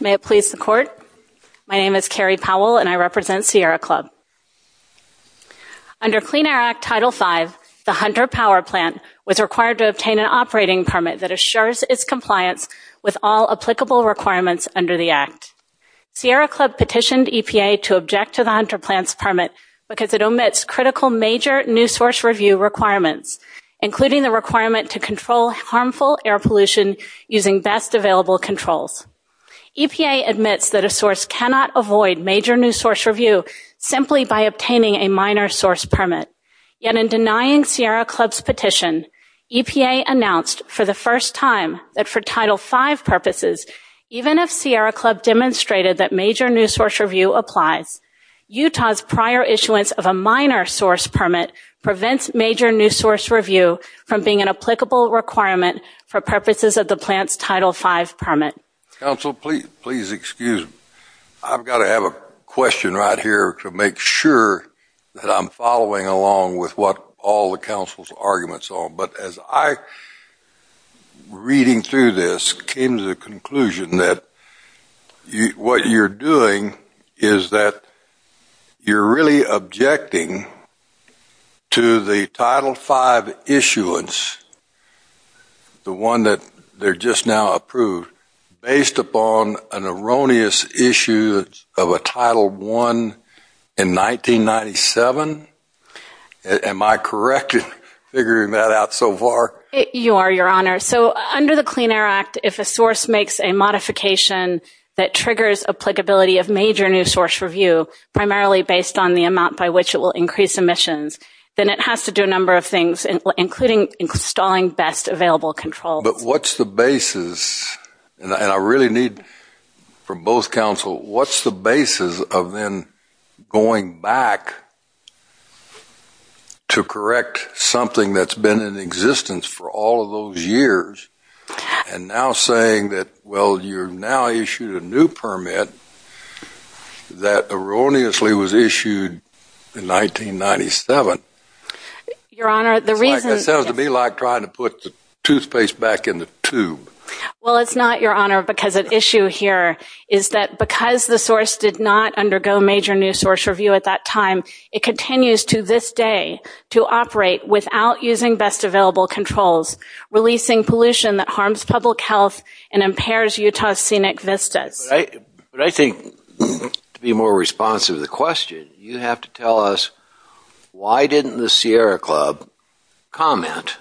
May it please the Court, my name is Carrie Powell and I represent Sierra Club. Under Clean Air Act Title V, the Hunter Power Plant was required to obtain an operating permit that assures its compliance with all applicable requirements under the Act. Sierra Club petitioned EPA to object to the Hunter Plant's permit because it omits critical major new source review requirements including the requirement to control harmful air pollution using best available controls. EPA admits that a source cannot avoid major new source review simply by obtaining a minor source permit. Yet in denying Sierra Club's petition, EPA announced for the first time that for Title V purposes even if Sierra Club demonstrated that major new source review applies, Utah's prior issuance of a minor source permit prevents major new source review from being an applicable requirement for purposes of the plant's Title V permit. Council, please excuse me. I've got to have a question right here to make sure that I'm following along with what all the council's arguments are, but as I reading through this came to the conclusion that what you're doing is that you're really objecting to the Title V issuance, the one that they're just now approved based upon an erroneous issue of a Title I in 1997? Am I correct in figuring that out so far? You are, your honor. So under the Clean Air Act, if a source makes a modification that triggers applicability of major new source review primarily based on the amount by which it will increase emissions, then it has to do a number of things including installing best available controls. But what's the basis, and I really need from both council, what's the basis of then going back to correct something that's been in existence for all of those years and now saying that well you're now issued a new permit that erroneously was issued in 1997? Your honor, the reason. It sounds to me like trying to put the toothpaste back in the tube. Well it's not, your honor, because an issue here is that because the source did not undergo major new source review at that time, it continues to this day to operate without using best available controls, releasing pollution that harms public health and impairs Utah's scenic vistas. But I think to be more responsive to the question, you have to tell us why didn't the Sierra Club comment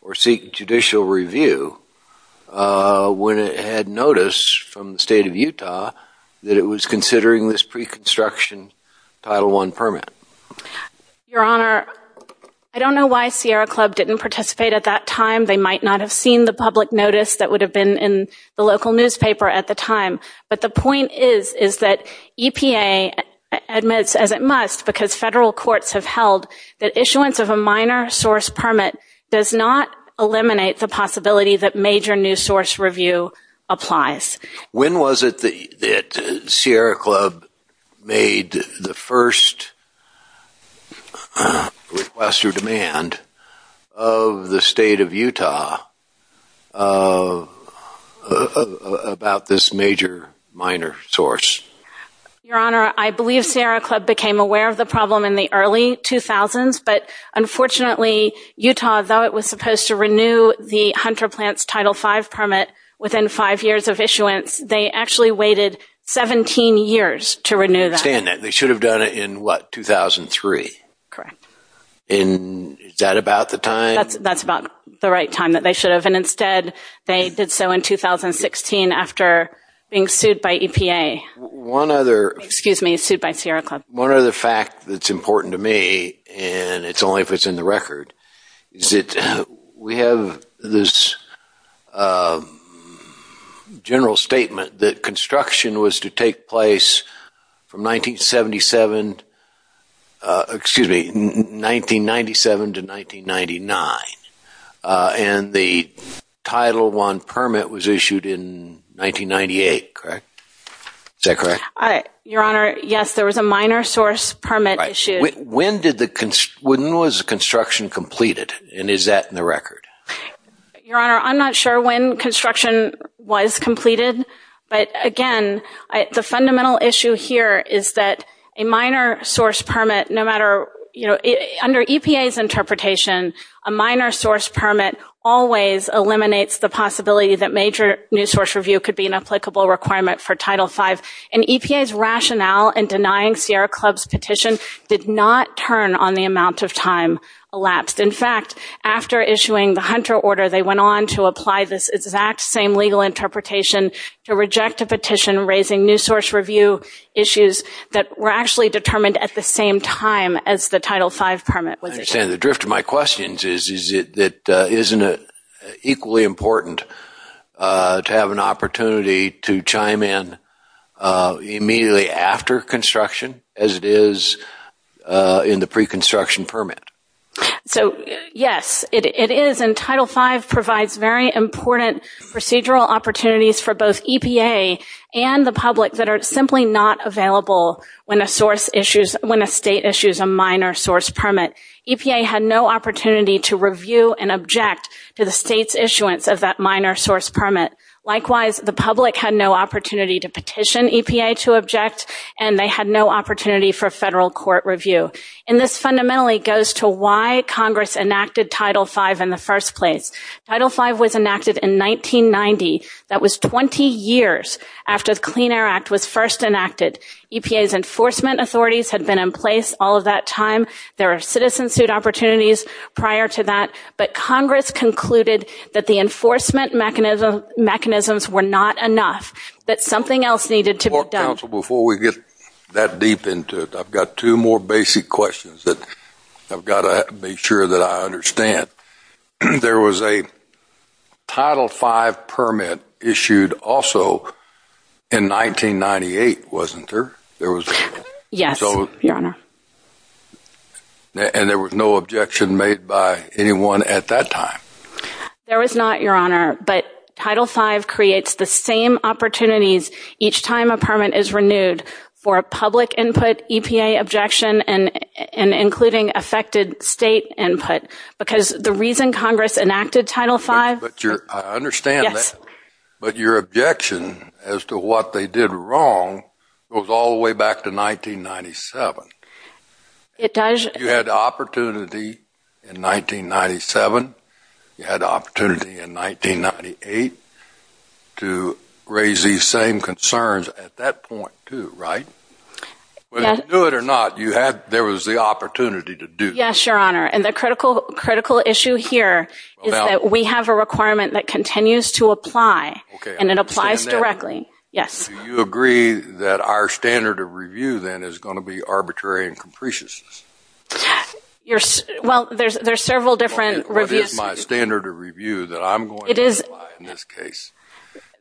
or seek judicial review when it had notice from the state of Utah that it was considering this pre-construction Title I permit? Your honor, I don't know why Sierra Club didn't participate at that time. They might not have seen the public notice that would have been in the local newspaper at the time. But the point is that EPA admits, as it must because federal courts have held, that issuance of a minor source permit does not eliminate the possibility that major new source review applies. When was it that Sierra Club made the first request or Your honor, I believe Sierra Club became aware of the problem in the early 2000s, but unfortunately Utah, though it was supposed to renew the Hunter Plant's Title V permit within five years of issuance, they actually waited 17 years to renew that. They should have done it in what, 2003? Correct. And is that about the time? That's about the right time that they should have, and instead they did so in 2016 after being sued by EPA. One other, excuse me, sued by Sierra Club. One other fact that's important to me, and it's only if it's in the record, is that we have this general statement that construction was to take place from 1977, excuse me, 1997 to 1999, and the Title I permit was issued in 1998, correct? Is that correct? Your honor, yes, there was a minor source permit issued. When did the, when was construction completed, and is that in the record? Your honor, I'm not sure when construction was completed, but again, the fundamental issue here is that a minor source permit, no matter, you know, under EPA's interpretation, a minor source permit always eliminates the possibility that major new source review could be an applicable requirement for Title V, and EPA's rationale in denying Sierra Club's petition did not turn on the amount of time elapsed. In fact, after issuing the Hunter order, they went on to apply this exact same legal interpretation to reject a petition raising new source review issues that were actually determined at the same time as the Title V permit was issued. I understand, the drift of my questions is, isn't it equally important to have an opportunity to chime in immediately after construction as it is in the pre-construction permit? So, yes, it is, and Title V provides very important procedural opportunities for both EPA and the public that are simply not available when a source issues, when a state issues a minor source permit. EPA had no opportunity to review and object to the state's issuance of that minor source permit. Likewise, the public had no opportunity to petition EPA to object, and they had no opportunity for federal court review, and this fundamentally goes to why Congress enacted Title V in the first place. Title V was enacted in 1990. That was 20 years after the Clean Air Act was first enacted. EPA's enforcement authorities had been in place all of that time. There are citizen-suit opportunities prior to that, but Congress concluded that the enforcement mechanisms were not enough, that something else needed to be done. Before we get that deep into it, I've got two more basic questions that I've a Title V permit issued also in 1998, wasn't there? Yes, Your Honor. And there was no objection made by anyone at that time? There was not, Your Honor, but Title V creates the same opportunities each time a permit is renewed for a public input EPA objection and including affected state input, because the reason Congress enacted Title V. I understand that, but your objection as to what they did wrong goes all the way back to 1997. It does. You had the opportunity in 1997, you had opportunity in 1998 to raise these same concerns at that point too, right? Whether you knew it or not, you had, there was the opportunity to do that. Yes, Your Honor, and the critical issue here is that we have a requirement that continues to apply, and it applies directly. Yes. Do you agree that our standard of review then is going to be arbitrary and capricious? Well, there's several different reviews. What is my standard of review that I'm going to apply in this case?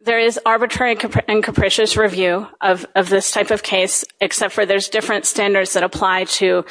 There is arbitrary and capricious review of this type of case, except for there's different standards that apply to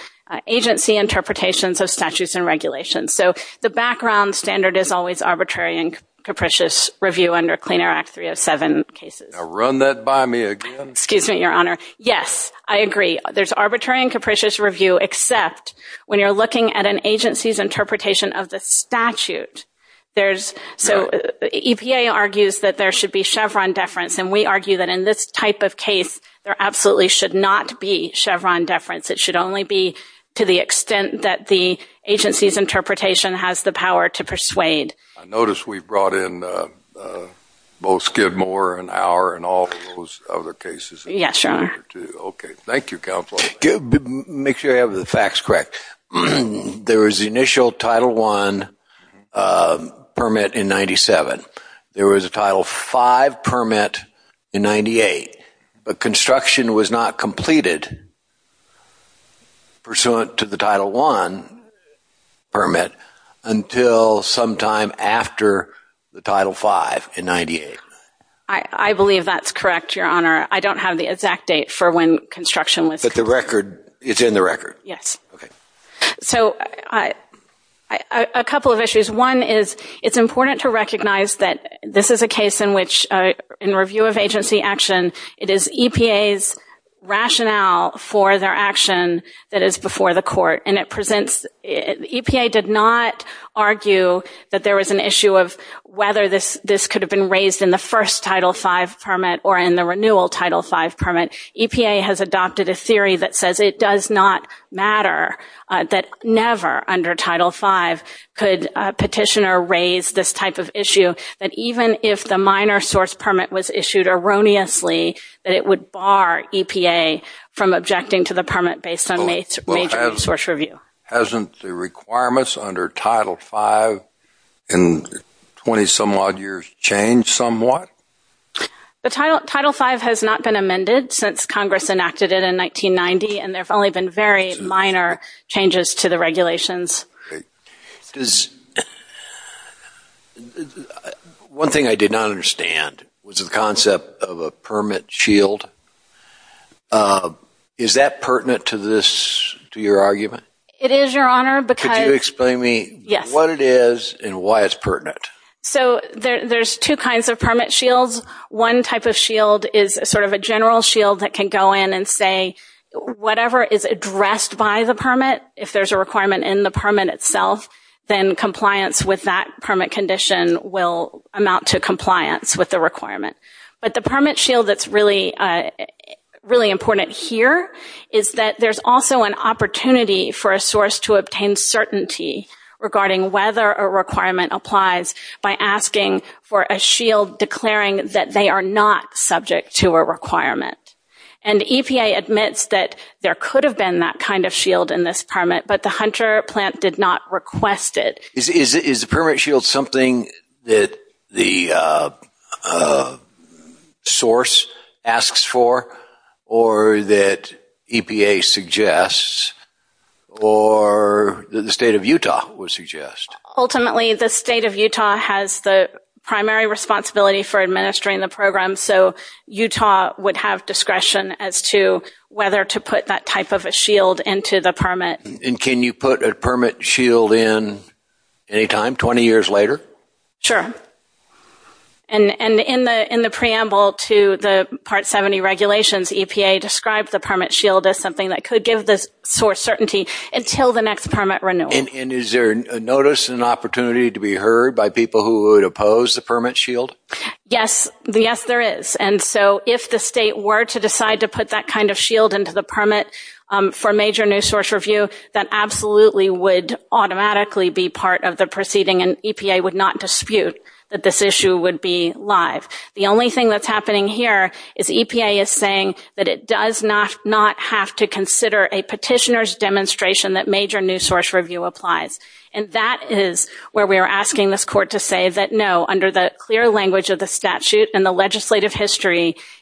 agency interpretations of statutes and regulations. So the background standard is always arbitrary and capricious review under Clean Air Act 307 cases. Now run that by me again. Excuse me, Your Honor. Yes, I agree. There's arbitrary and capricious review, except when you're looking at an agency's interpretation of the statute. There's, so EPA argues that there should be Chevron deference, and we argue that in this type of case there absolutely should not be Chevron deference. It should only be to the extent that the agency's interpretation has the power to persuade. I notice we've brought in both Skidmore and Auer and all those other cases. Yes, Your Honor. Okay, thank you, Counselor. Make sure I have the facts correct. There was the initial Title I permit in 1998, but construction was not completed pursuant to the Title I permit until sometime after the Title V in 1998. I believe that's correct, Your Honor. I don't have the exact date for when construction was. But the record, it's in the record? Yes. Okay. So a couple of issues. One is it's important to It is EPA's rationale for their action that is before the court, and it presents, EPA did not argue that there was an issue of whether this could have been raised in the first Title V permit or in the renewal Title V permit. EPA has adopted a theory that says it does not matter, that never under Title V could petitioner raise this type of issue, that even if the minor source permit was submitted unanimously, that it would bar EPA from objecting to the permit based on major source review. Hasn't the requirements under Title V in 20-some-odd years changed somewhat? The Title V has not been amended since Congress enacted it in 1990, and there have only been very minor changes to the regulations. One thing I did not understand was the concept of a permit shield. Is that pertinent to this, to your argument? It is, Your Honor, because... Could you explain to me what it is and why it's pertinent? So there's two kinds of permit shields. One type of shield is sort of a general shield that can go in and say whatever is addressed by the permit, if there's a requirement in the permit itself, then compliance with that permit condition will amount to compliance with the requirement. But the permit shield that's really, really important here is that there's also an opportunity for a source to obtain certainty regarding whether a requirement applies by asking for a shield declaring that they are not subject to a requirement. And EPA admits that there could have been that kind of shield in this permit, but the Hunter plant did not request it. Is the permit shield something that the source asks for, or that EPA suggests, or the state of Utah would suggest? Ultimately, the state of Utah has the primary responsibility for administering the program, so Utah would have discretion as to whether to put that type of a shield into the permit. And can you put a permit shield in anytime, 20 years later? Sure. And in the preamble to the Part 70 regulations, EPA described the permit shield as something that could give the source certainty until the next permit renewal. And is there a notice, an opportunity to be heard by people who would oppose the state were to decide to put that kind of shield into the permit for major new source review? That absolutely would automatically be part of the proceeding, and EPA would not dispute that this issue would be live. The only thing that's happening here is EPA is saying that it does not have to consider a petitioner's demonstration that major new source review applies. And that is where we are asking this court to say that no, under the clear language of the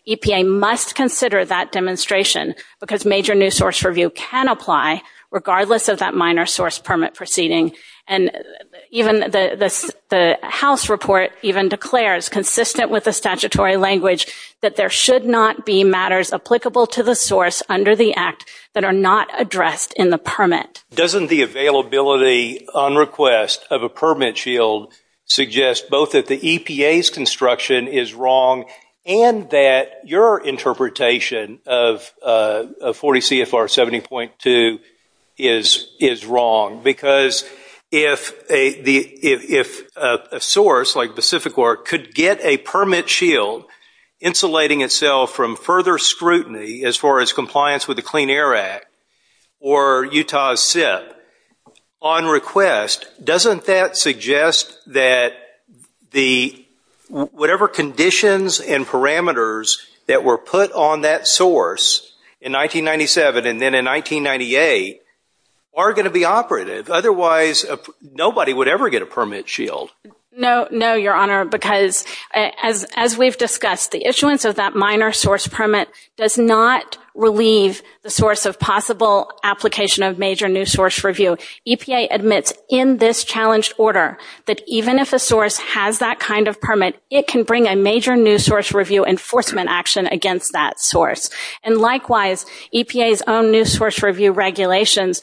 EPA, must consider that demonstration because major new source review can apply regardless of that minor source permit proceeding. And even the House report even declares, consistent with the statutory language, that there should not be matters applicable to the source under the act that are not addressed in the permit. Doesn't the availability on request of a permit shield suggest both that the EPA's construction is wrong and that your interpretation of 40 CFR 70.2 is wrong? Because if a source like Pacific Ore could get a permit shield insulating itself from further scrutiny as far as compliance with the Clean Air Act or Utah's SIP on request, doesn't that suggest that the whatever conditions and parameters that were put on that source in 1997 and then in 1998 are going to be operative? Otherwise, nobody would ever get a permit shield. No, no, Your Honor, because as we've discussed, the issuance of that minor source permit does not relieve the source of possible application of major new source review. EPA admits in this challenged order that even if a source has that kind of permit, it can bring a major new source review enforcement action against that source. And likewise, EPA's own new source review regulations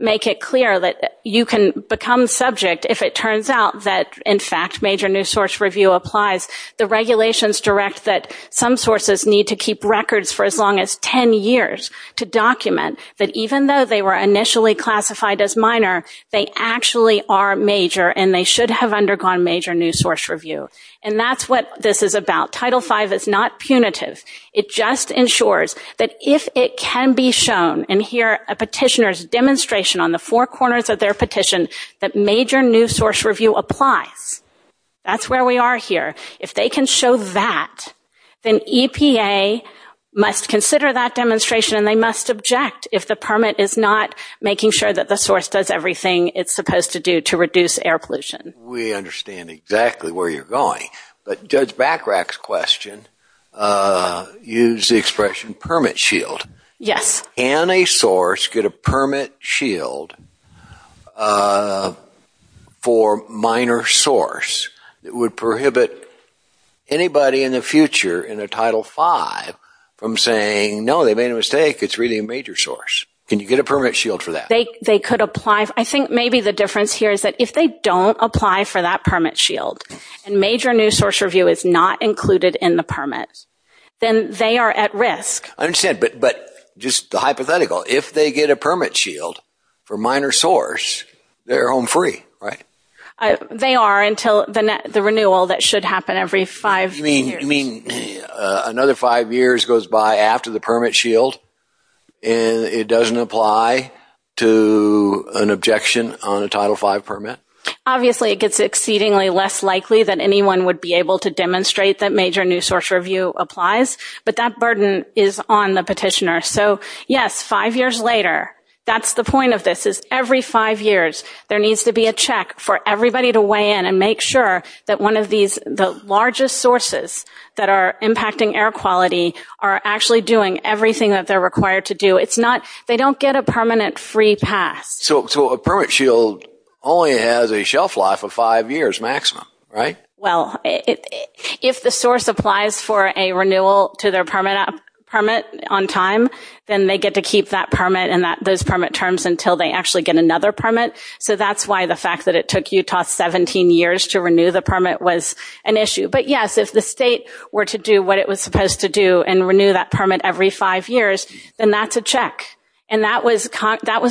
make it clear that you can become subject if it turns out that, in fact, major new source review applies. The regulations direct that some sources need to keep records for as long as 10 years to document that even though they were initially classified as minor, they actually are major and they should have undergone major new source review. And that's what this is about. Title V is not punitive. It just ensures that if it can be shown and hear a petitioner's demonstration on the four corners of their petition that major new source review applies. That's where we are here. If they can show that, then EPA must consider that demonstration and they must object if the permit is not making sure that the source does everything it's supposed to do to reduce air pollution. We understand exactly where you're going, but Judge Bachrach's question used the expression permit shield. Yes. Can a source get a permit shield for minor source that would prohibit anybody in the future in a Title V from saying, no, they made a mistake, it's really a major source. Can you get a permit shield for that? They could apply. I think maybe the difference here is that if they don't apply for that permit shield and major new source review is not included in the permit, then they are at risk. I understand, but just the hypothetical, if they get a permit shield for minor source, they're home free, right? They are until the renewal that should happen every five years. You mean another five years goes by after the permit shield and it doesn't apply to an objection on a Title V permit? Obviously, it gets exceedingly less likely that anyone would be able to demonstrate that major new source review applies, but that burden is on the petitioner. So, yes, five years later. That's the point of this, is every five years there needs to be a check for everybody to weigh in and make sure that one of these, the largest sources that are impacting air quality are actually doing everything that they're required to do. It's not, they don't get a permanent free pass. So a permit shield only has a shelf life of five years maximum, right? Well, if the source applies for a renewal to their permit on time, then they get to keep that permit and those permit terms until they actually get another permit. So that's why the fact that it took Utah 17 years to renew the permit was an issue. But, yes, if the state were to do what it was supposed to do and renew that permit every five years, then that's a check. And that was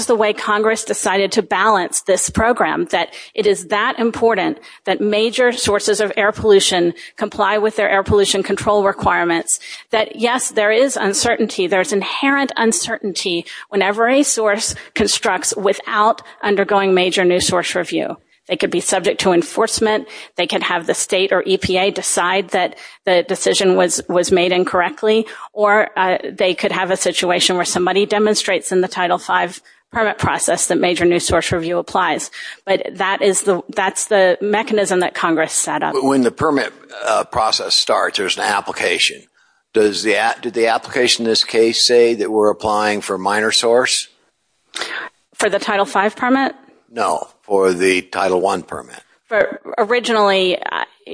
the way Congress decided to balance this program, that it is that important that major sources of air pollution control requirements, that, yes, there is uncertainty, there's inherent uncertainty whenever a source constructs without undergoing major new source review. They could be subject to enforcement, they could have the state or EPA decide that the decision was was made incorrectly, or they could have a situation where somebody demonstrates in the Title V permit process that major new source review applies. But that is the, that's the mechanism that Congress set up. But when the permit process starts, there's an application. Does the, did the application in this case say that we're applying for minor source? For the Title V permit? No, for the Title I permit. But originally,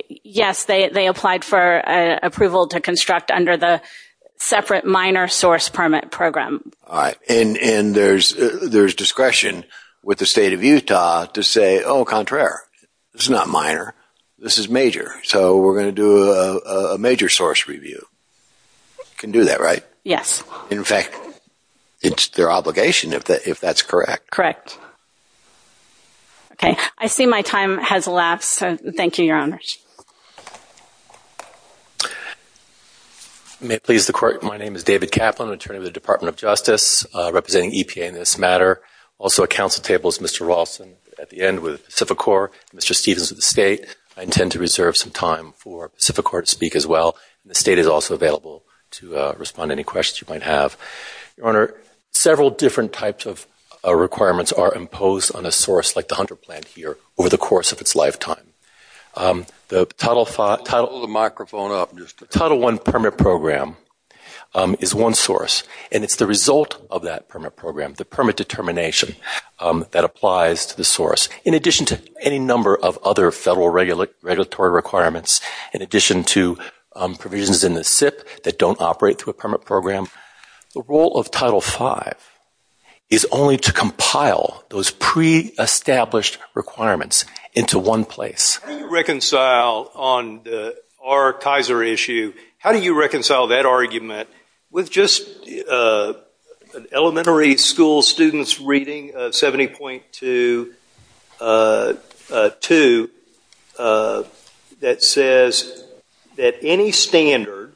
yes, they applied for approval to construct under the separate minor source permit program. All right, and there's discretion with the state of Utah to say, oh, contraire, it's not minor, this is major, so we're going to do a major source review. You can do that, right? Yes. In fact, it's their obligation if that, if that's correct. Correct. Okay, I see my time has elapsed, so thank you, Your Honors. May it please the Court, my name is David Kaplan, attorney with the Department of Justice, representing EPA in this matter. Also at council table is Mr. Rawlson at the end with Pacificorps, Mr. Stevens with the state. I intend to reserve some time for Pacificorps to speak as well. The state is also available to respond to any questions you might have. Your Honor, several different types of requirements are imposed on a source like the Hunter plant here over the course of its lifetime. The Title V, Title I permit program is one source, and it's the result of that permit program, the permit determination that applies to the source. In addition to any number of other federal regulatory requirements, in addition to provisions in the SIP that don't operate through a permit program, the role of Title V is only to compile those pre-established requirements into one place. How do you reconcile, on our Kaiser issue, how do you reconcile Title I and 70.2 that says that any standard,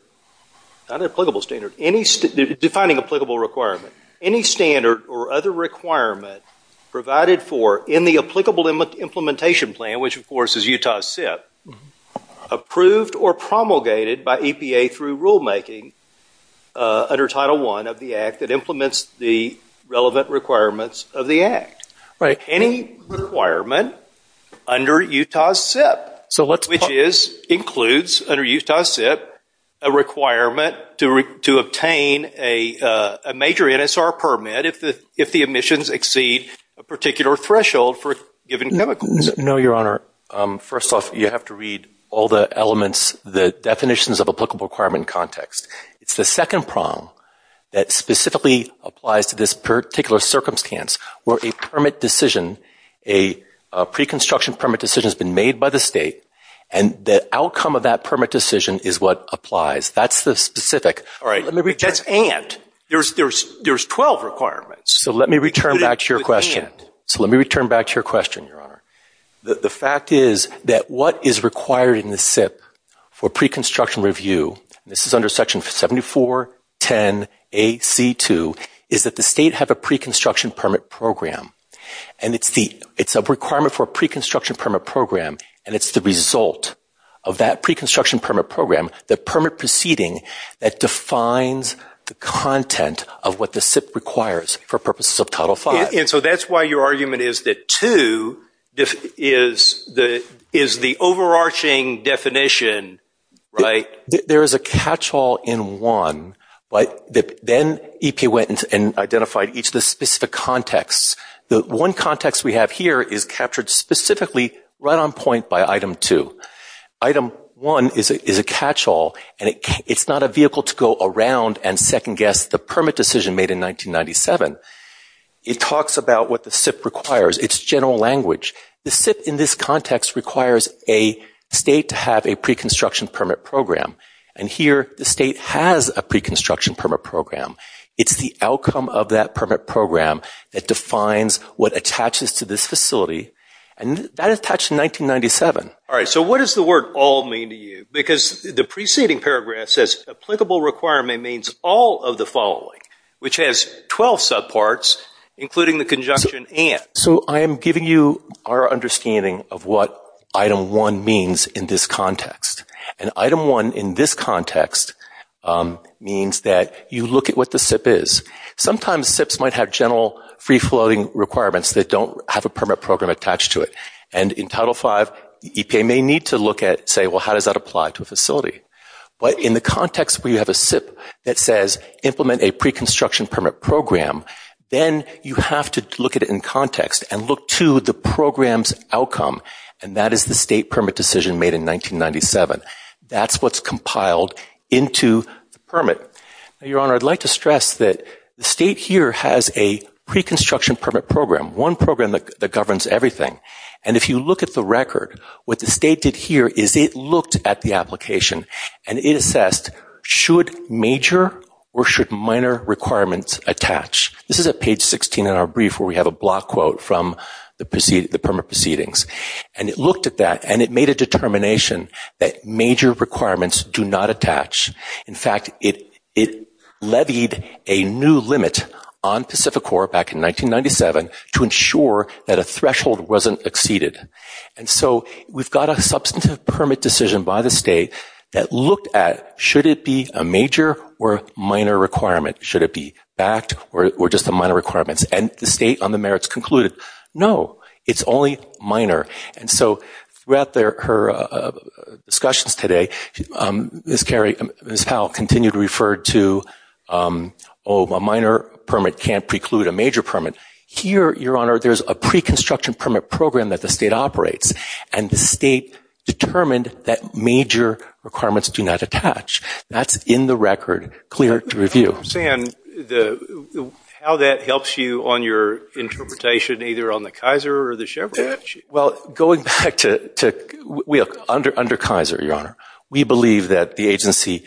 not an applicable standard, defining applicable requirement, any standard or other requirement provided for in the applicable implementation plan, which of course is Utah SIP, approved or promulgated by EPA through rulemaking under Title I of the requirements of the Act. Any requirement under Utah SIP, which includes, under Utah SIP, a requirement to obtain a major NSR permit if the emissions exceed a particular threshold for a given chemical. No, Your Honor. First off, you have to read all the elements, the definitions of applicable requirement context. It's the second prong that specifically applies to this particular circumstance where a permit decision, a pre-construction permit decision has been made by the state and the outcome of that permit decision is what applies. That's the specific. All right. That's and. There's twelve requirements. So let me return back to your question. So let me return back to your question, Your Honor. The fact is that what is required in the SIP for pre-construction review, this is under Section 7410AC2, is that the state have a pre-construction permit program. And it's a requirement for a pre-construction permit program. And it's the result of that pre-construction permit program, the permit proceeding that defines the content of what the SIP requires for purposes of Title V. And so that's why your argument is that two is the overarching definition, right? There is a catch-all in one, but then EPA went and identified each of the specific contexts. The one context we have here is captured specifically right on point by Item 2. Item 1 is a catch-all and it's not a vehicle to go around and second guess the permit decision made in 1997. It talks about what the SIP requires. It's general language. The SIP in this context requires a state to have a pre-construction permit program. And here the state has a pre-construction permit program. It's the outcome of that permit program that defines what attaches to this facility. And that attached in 1997. All right, so what does the word all mean to you? Because the preceding paragraph says applicable requirement means all of the following, which has 12 subparts including the conjunction and. So I am giving you our understanding of what Item 1 means in this context. And Item 1 in this context means that you look at what the SIP is. Sometimes SIPs might have general free-floating requirements that don't have a permit program attached to it. And in Title V, EPA may need to look at, say, well, how does that apply to a facility? But in the context where you have a SIP that says implement a pre-construction permit program, then you have to look at it in to the program's outcome. And that is the state permit decision made in 1997. That's what's compiled into the permit. Your Honor, I'd like to stress that the state here has a pre-construction permit program. One program that governs everything. And if you look at the record, what the state did here is it looked at the application and it assessed should major or should minor requirements attach. This is at page 16 in our brief where we have a block quote from the permit proceedings. And it looked at that and it made a determination that major requirements do not attach. In fact, it levied a new limit on Pacific Corps back in 1997 to ensure that a threshold wasn't exceeded. And so we've got a substantive permit decision by the state that looked at should it be a minor act or just the minor requirements. And the state on the merits concluded, no, it's only minor. And so throughout her discussions today, Ms. Powell continued to refer to, oh, a minor permit can't preclude a major permit. Here, Your Honor, there's a pre-construction permit program that the state operates. And the state determined that major requirements do not attach. That's in the statute. How that helps you on your interpretation either on the Kaiser or the Chevrolet? Well, going back to under Kaiser, Your Honor, we believe that the agency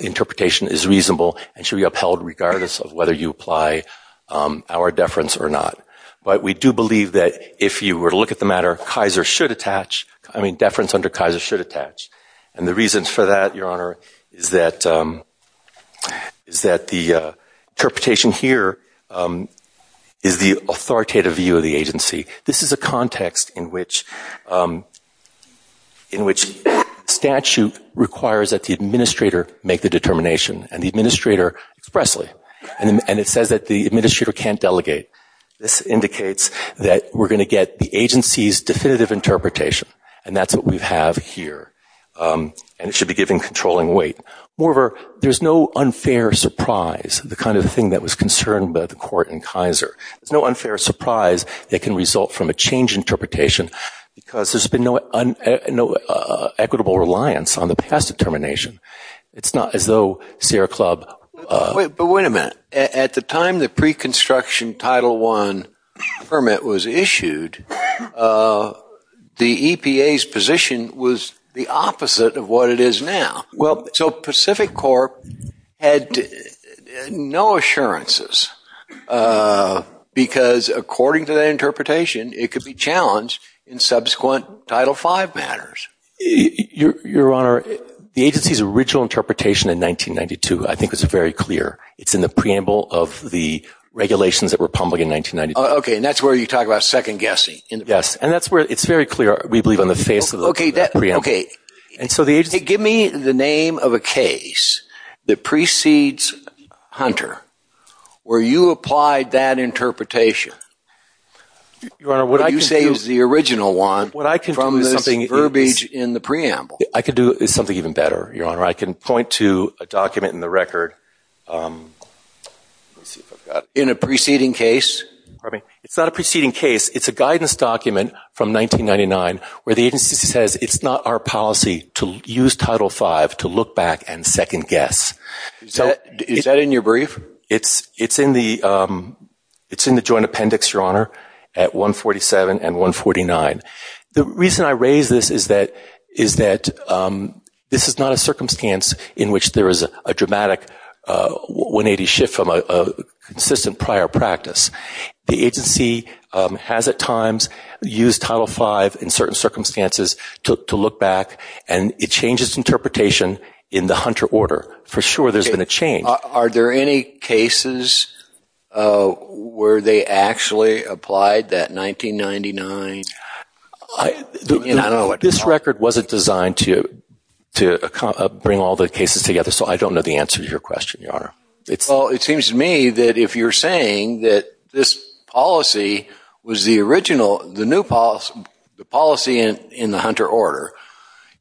interpretation is reasonable and should be upheld regardless of whether you apply our deference or not. But we do believe that if you were to look at the matter, Kaiser should attach. I mean, deference under Kaiser should attach. And the reason for that, Your Honor, is that the interpretation here is the authoritative view of the agency. This is a context in which statute requires that the administrator make the determination and the administrator expressly. And it says that the administrator can't delegate. This indicates that we're going to get the agency's definitive interpretation. And that's what we have here. And it should be given controlling weight. Moreover, there's no unfair surprise, the kind of thing that was concerned by the court in Kaiser. There's no unfair surprise that can result from a change interpretation because there's been no equitable reliance on the past determination. It's not as though Sierra Club... But wait a minute. At the time the pre-construction Title I permit was the opposite of what it is now. So Pacific Corp had no assurances because according to that interpretation, it could be challenged in subsequent Title V matters. Your Honor, the agency's original interpretation in 1992, I think was very clear. It's in the preamble of the regulations that were public in 1992. Okay. And that's where you talk about second-guessing. Yes. And that's where it's very clear, we believe, on the face of the preamble. Okay. Give me the name of a case that precedes Hunter where you applied that interpretation. Your Honor, what I can do... What you say is the original one from this verbiage in the preamble. I could do something even better, Your Honor. I can point to a document in the record. In a preceding case? It's not a preceding case. It's a case from 1999 where the agency says it's not our policy to use Title V to look back and second-guess. Is that in your brief? It's in the joint appendix, Your Honor, at 147 and 149. The reason I raise this is that this is not a circumstance in which there is a dramatic 180 shift from a consistent prior practice. The agency has at times used Title V in certain circumstances to look back, and it changes interpretation in the Hunter order. For sure there's been a change. Are there any cases where they actually applied that 1999... I don't know what to call it. This record wasn't designed to bring all the cases together, so I don't know the answer to your question, Your Honor. Well, it is saying that this policy was the original, the new policy in the Hunter order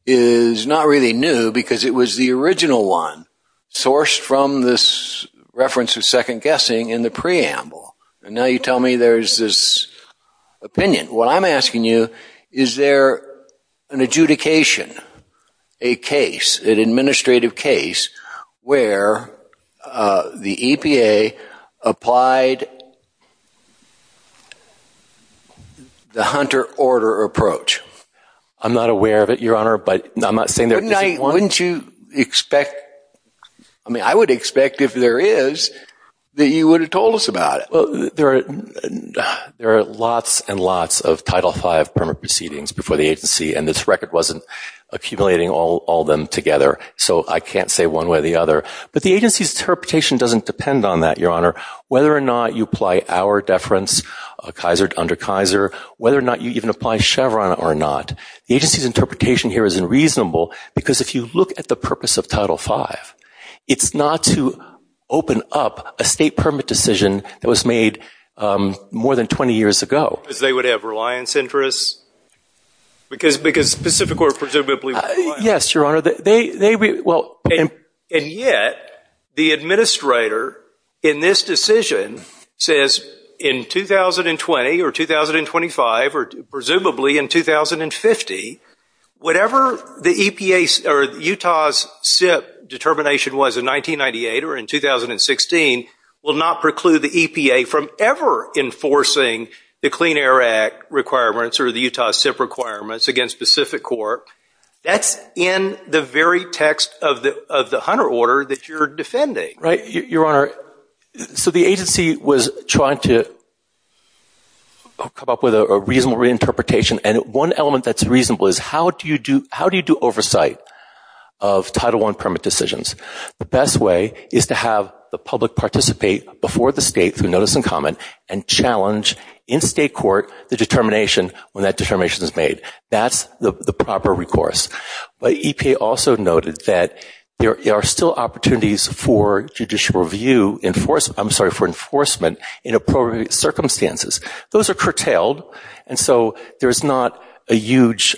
is not really new because it was the original one sourced from this reference of second-guessing in the preamble, and now you tell me there's this opinion. What I'm asking you, is there an adjudication, a case, an adjudication to provide the Hunter order approach? I'm not aware of it, Your Honor, but I'm not saying there isn't one. Wouldn't you expect, I mean, I would expect if there is, that you would have told us about it. Well, there are lots and lots of Title V permit proceedings before the agency, and this record wasn't accumulating all them together, so I can't say one way or the other, but the agency's interpretation doesn't depend on that, Your Honor. Whether or not you apply our deference, Kaiser under Kaiser, whether or not you even apply Chevron or not, the agency's interpretation here is unreasonable because if you look at the purpose of Title V, it's not to open up a state permit decision that was made more than 20 years ago. Because they would have reliance interests? Because, because Pacific or presumably... Yes, Your Honor, they, well... And yet, the administrator in this decision says in 2020 or 2025 or presumably in 2050, whatever the EPA or Utah's SIPP determination was in 1998 or in 2016 will not preclude the EPA from ever enforcing the Clean Air Act requirements or the Utah SIPP requirements against Pacific Corp. That's in the very text of the Hunter order that you're defending. Right, Your Honor, so the agency was trying to come up with a reasonable reinterpretation, and one element that's reasonable is how do you do, how do you do oversight of Title I permit decisions? The best way is to have the public participate before the state through notice and comment and challenge in state court the determination when that determination is made. That's the proper recourse. But EPA also noted that there are still opportunities for judicial review in force, I'm sorry, for enforcement in appropriate circumstances. Those are curtailed, and so there's not a huge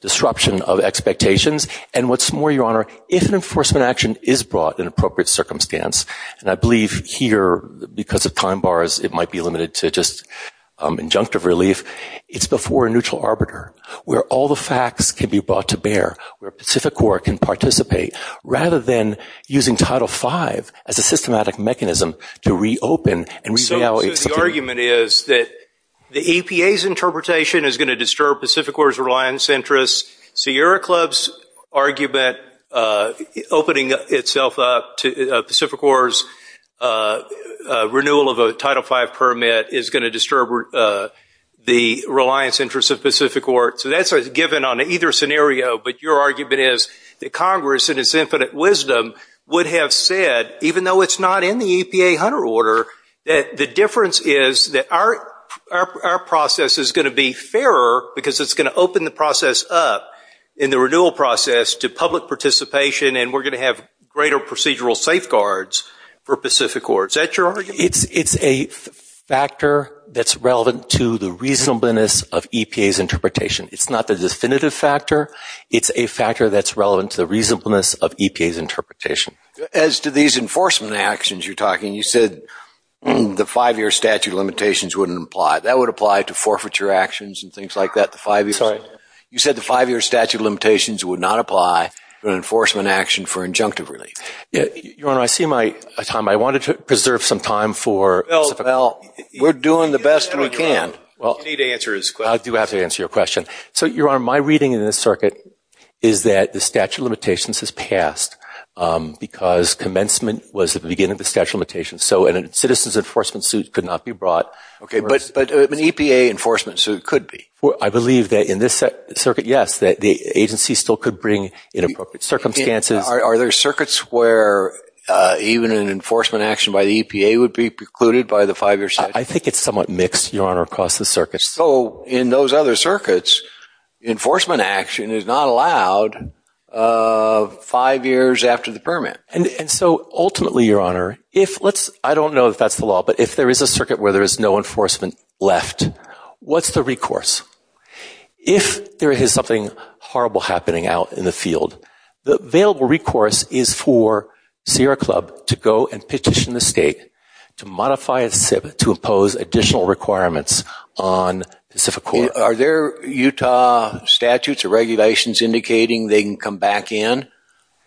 disruption of expectations. And what's more, Your Honor, if an enforcement action is brought in appropriate circumstance, and I believe here because of time bars it might be limited to just injunctive relief, it's before a neutral arbiter where all the facts can be brought to bear, where Pacific Corp can participate rather than using Title V as a systematic mechanism to reopen and revalidate. So the argument is that the EPA's interpretation is going to disturb Pacific Corp's reliance interests, Sierra Club's argument opening itself up to Pacific Corp's renewal of a Title V permit is going to disturb the reliance interests of Pacific Corp. So that's given on either scenario, but your argument is that Congress, in its infinite wisdom, would have said, even though it's not in the EPA Hunter Order, that the difference is that our process is going to be fairer because it's going to open the process up in the renewal process to public participation and we're going to have greater procedural safeguards for Pacific Corp. Is that your argument? It's a factor that's relevant to the reasonableness of EPA's interpretation. It's not the definitive factor. It's a factor that's relevant to the reasonableness of EPA's interpretation. As to these enforcement actions you're talking, you said the five-year statute of limitations wouldn't apply. That would apply to forfeiture actions and things like that. You said the five-year statute of limitations would not apply to an enforcement action for injunctive relief. Your Honor, I see my time. I wanted to preserve some time for... Well, we're doing the best we can. You need to answer his question. I do have to answer your question. So, Your Honor, my reading in this circuit is that the statute of limitations has passed because commencement was the beginning of the statute of limitations. So a citizen's enforcement suit could not be brought. But an EPA enforcement suit could be. I believe that in this circuit, yes, that the agency still could bring inappropriate circumstances. Are there circuits where even an enforcement action by the EPA would be precluded by the five-year statute? I think it's somewhat mixed, Your Honor, across the circuits. So in those other circuits, enforcement action is not allowed five years after the permit. And so ultimately, Your Honor, I don't know if that's the law, but if there is a circuit where there is no enforcement left, what's the recourse? If there is something horrible happening out in the field, the available recourse is for Sierra Club to go and petition the state to modify its SIP to impose additional requirements on Pacific Corp. Are there Utah statutes or regulations indicating they can come back in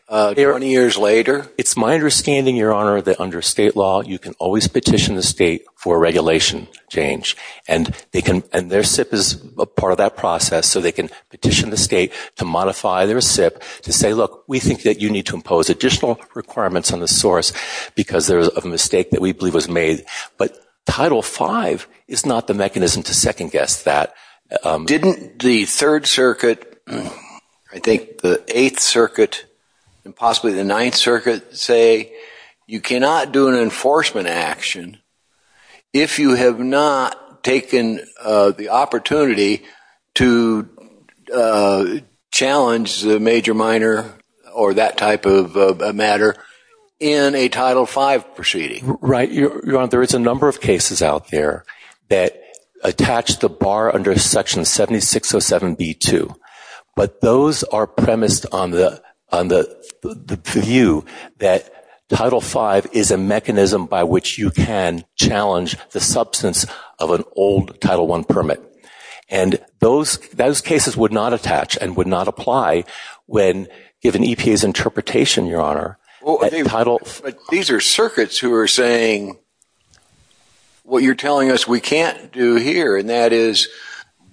20 years later? It's my understanding, Your Honor, that under state law, you can always petition the state for regulation change. And their SIP is a part of that process. So they can petition the state to modify their SIP to say, look, we think that you need to impose additional requirements on the source because there was a mistake that we believe was made. But Title V is not the mechanism to second guess that. Didn't the Third Circuit, I think the Eighth Circuit and possibly the Ninth Circuit, say you cannot do an enforcement action if you have not taken the opportunity to challenge the major, minor, or that type of a matter in a Title V proceeding? Right. Your Honor, there is a number of cases out there that attach the bar under Section 7607B2. But those are premised on the view that Title V is a mechanism by which you can challenge the substance of an old Title I permit. And those cases would not attach and would not apply when given EPA's interpretation, Your Honor. But these are circuits who are saying what you're telling us we can't do here. And that is,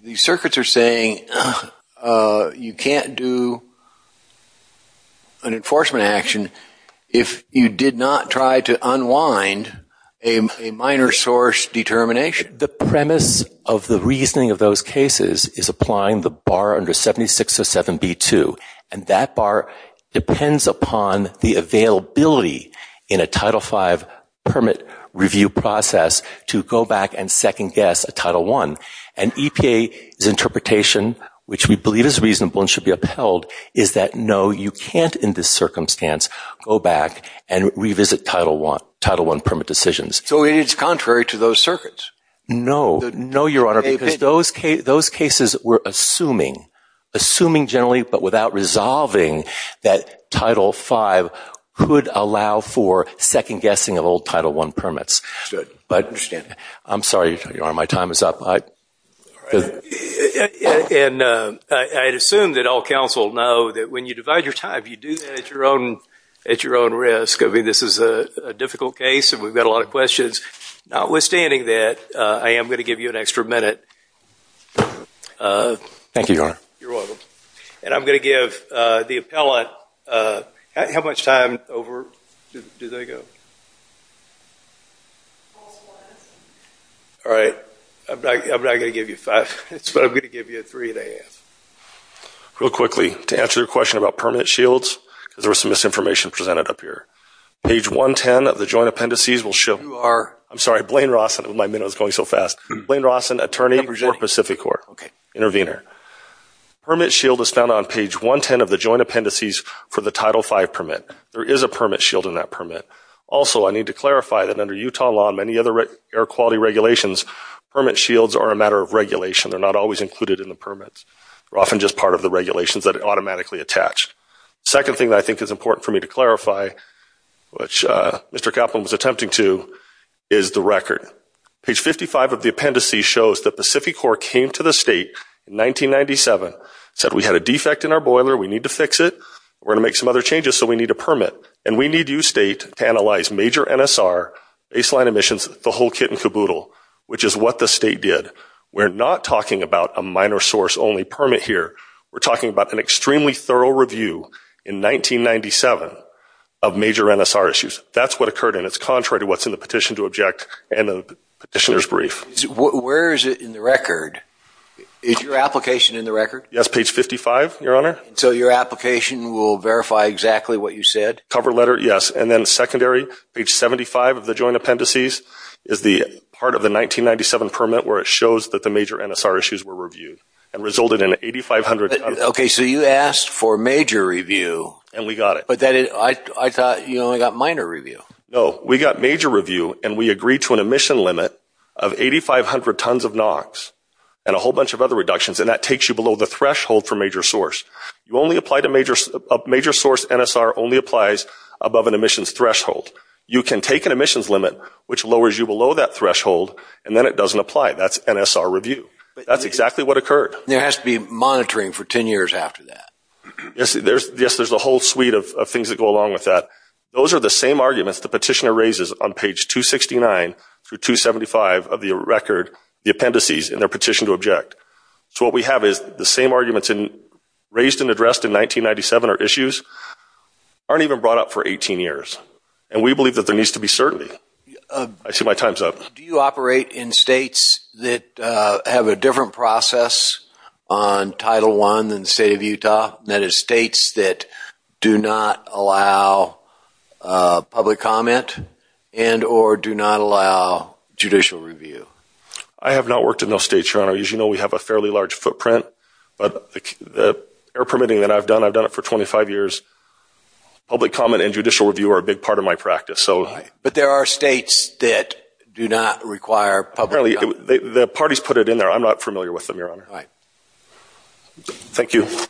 these circuits are saying you can't do an enforcement action if you did not try to unwind a minor source determination. The premise of the reasoning of those cases is applying the bar under 7607B2. And that bar depends upon the availability in a Title V permit review process to go back and second guess a Title I. And EPA's interpretation, which we believe is reasonable and should be upheld, is that no, you can't in this circumstance go back and revisit Title I permit decisions. So it is contrary to those circuits? No. No, Your Honor, because those cases were assuming, assuming generally, but without resolving that Title V could allow for second guessing of old Title I permits. I understand. I'm sorry, Your Honor, my time is up. And I'd assume that all counsel know that when you divide your time, you do that at your own risk. I mean, this is a difficult case and we've got a lot of questions. Notwithstanding that, I am going to give you an extra minute. Thank you, Your Honor. You're welcome. And I'm going to give the appellant, how much time over do they go? All right. I'm not going to give you five minutes, but I'm going to give you a three and a half. Real quickly, to answer your question about permit shields, because there was some misinformation presented up here. Page 110 of the joint appendices will show You are? I'm sorry, Blaine Rawson. My minute was going so fast. Blaine Rawson, attorney. Pacificor, intervener. Permit shield is found on page 110 of the joint appendices for the Title V permit. There is a permit shield in that permit. Also, I need to clarify that under Utah law and many other air quality regulations, permit shields are a matter of regulation. They're not always included in the permits. They're often just part of the regulations that are automatically attached. Second thing that I think is important for me to clarify, which Mr. Kaplan was attempting to, is the record. Page 55 of the appendices shows that Pacificor came to the state in 1997, said we had a defect in our boiler, we need to fix it. We're going to make some other changes, so we need a permit. And we need you, state, to analyze major NSR, baseline emissions, the whole kit and caboodle, which is what the state did. We're not talking about a minor source only permit here. We're talking about an extremely thorough review in 1997 of major NSR issues. That's what occurred and it's contrary to what's in the petition to object and the petitioner's brief. Where is it in the record? Is your application in the record? Yes. Page 55, your honor. So your application will verify exactly what you said? Cover letter, yes. And then secondary, page 75 of the joint appendices is the part of the 1997 permit where it shows that the major NSR issues were reviewed and resulted in 8,500. Okay. So you asked for major review. And we got it. But I thought you only got minor review. No, we got major review and we agreed to an emission limit of 8,500 tons of NOx and a whole bunch of other reductions and that takes you below the threshold for major source. You only applied a major source NSR only applies above an emissions threshold. You can take an emissions limit which lowers you below that threshold and then it doesn't apply. That's NSR review. That's exactly what occurred. There has to be monitoring for 10 years after that. Yes, there's a whole suite of things that go along with that. Those are the same arguments the petitioner raises on page 269 through 275 of the record, the appendices in their petition to object. So what we have is the same arguments raised and addressed in 1997 or issues aren't even brought up for 18 years. And we believe that there needs to be certainty. I see my time's up. Do you operate in states that have a different process on Title I than the state of Utah? That is states that do not allow public comment and or do not allow judicial review? I have not worked in those states, Your Honor. As you know, we have a fairly large footprint. But the air permitting that I've done, I've done it for 25 years. Public comment and judicial review are a big part of my practice. But there are states that do not require public comment. The parties put it in there. I'm not familiar with them, Your Honor. Right. Thank you. Thank you.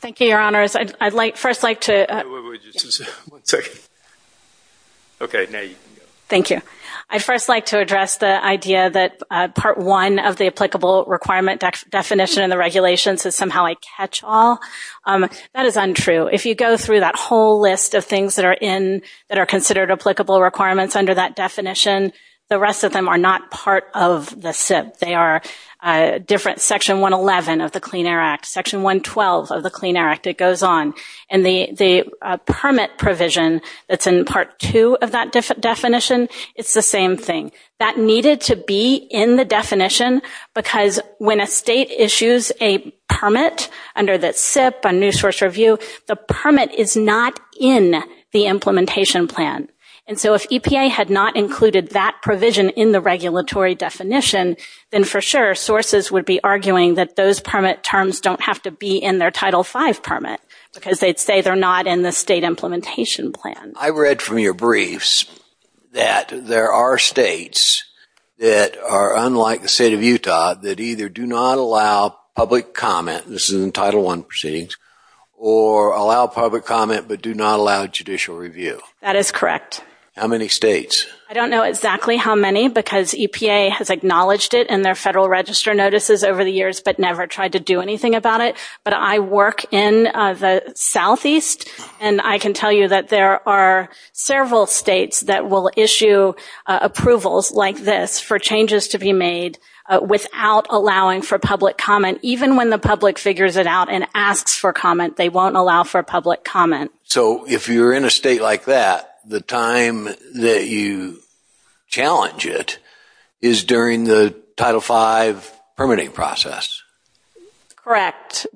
Thank you, Your Honors. I'd like first like to... One second. Okay, now you can go. Thank you. I'd first like to address the idea that part one of the applicable requirement definition in the regulations is somehow I catch all. That is untrue. If you go through that whole list of things that are in, that are considered applicable requirements under that definition, the rest of them are not part of the SIP. They are different. Section 111 of the Clean Air Act. Section 112 of the Clean Air Act. It goes on. And the permit provision that's in part two of that definition, it's the same thing. That needed to be in the definition because when a state issues a permit under the SIP, a new source review, the permit is not in the implementation plan. And so if EPA had not included that provision in the regulatory definition, then for sure sources would be arguing that those permit terms don't have to be in their Title V permit because they'd say they're not in the state implementation plan. I read from your briefs that there are states that are unlike the state of Utah that either do not allow public comment, this is in Title I proceedings, or allow public comment but do not allow judicial review. That is correct. How many states? I don't know exactly how many because EPA has acknowledged it in their federal register notices over the years but never tried to do anything about it. But I work in the southeast and I can tell you that there are several states that will issue approvals like this for changes to be made without allowing for public comment. Even when the public figures it out and asks for comment, they won't allow for public comment. So if you're in a state like that, the time that you challenge it is during the Title V permitting process? Correct.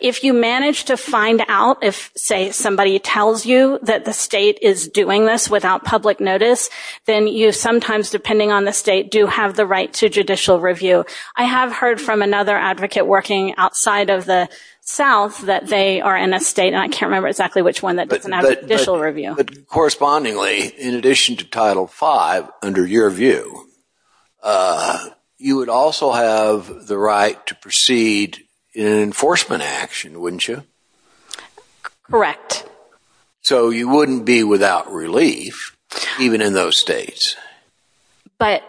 If you manage to find out if, say, somebody tells you that the state is doing this without public notice, then you sometimes, depending on the state, do have the right to judicial review. I have heard from another advocate working outside of the south that they are in a state, and I can't remember exactly which one, that doesn't have judicial review. But correspondingly, in addition to Title V, under your view, you would also have the right to proceed in an enforcement action, wouldn't you? Correct. So you wouldn't be without relief, even in those states? But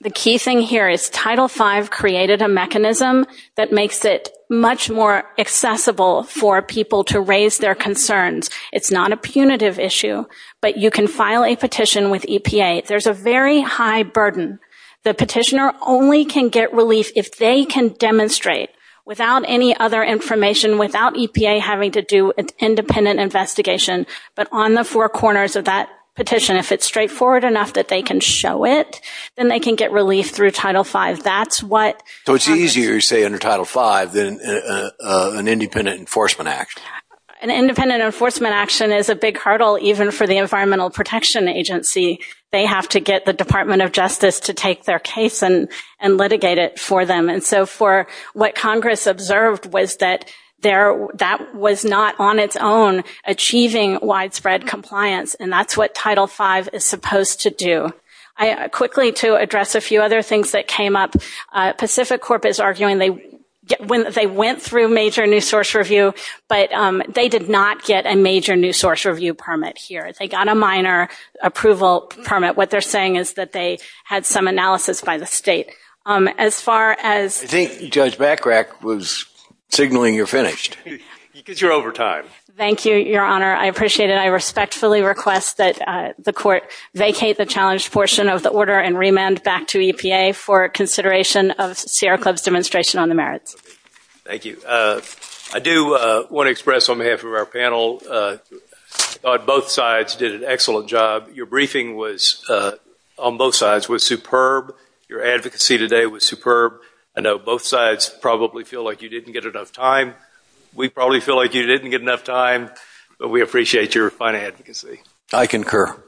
the key thing here is Title V created a mechanism that makes it much more accessible for people to raise their concerns. It's not a punitive issue, but you can file a petition with EPA. There's a very high burden. The petitioner only can get relief if they can demonstrate, without any other information, without EPA having to do an independent investigation, but on the four corners of that petition. If it's straightforward enough that they can show it, then they can get relief through Title V. That's what happens. So it's easier, say, under Title V than an independent enforcement action? An independent enforcement action is a big hurdle, even for the Environmental Protection Agency. They have to get the Department of Justice to take their case and litigate it for them. For what Congress observed was that that was not, on its own, achieving widespread compliance, and that's what Title V is supposed to do. Quickly, to address a few other things that came up, Pacific Corp is arguing they went through major new source review, but they did not get a major new source review permit here. They got a minor approval permit. What they're saying is that they had some analysis by the state. As far as— I think Judge Backrack was signaling you're finished. Because you're over time. Thank you, Your Honor. I appreciate it. I respectfully request that the Court vacate the challenged portion of the order and remand back to EPA for consideration of Sierra Club's demonstration on the merits. Thank you. I do want to express, on behalf of our panel, Your briefing was, on both sides, was superb. Your advocacy today was superb. I know both sides probably feel like you didn't get enough time. We probably feel like you didn't get enough time, but we appreciate your fine advocacy. I concur.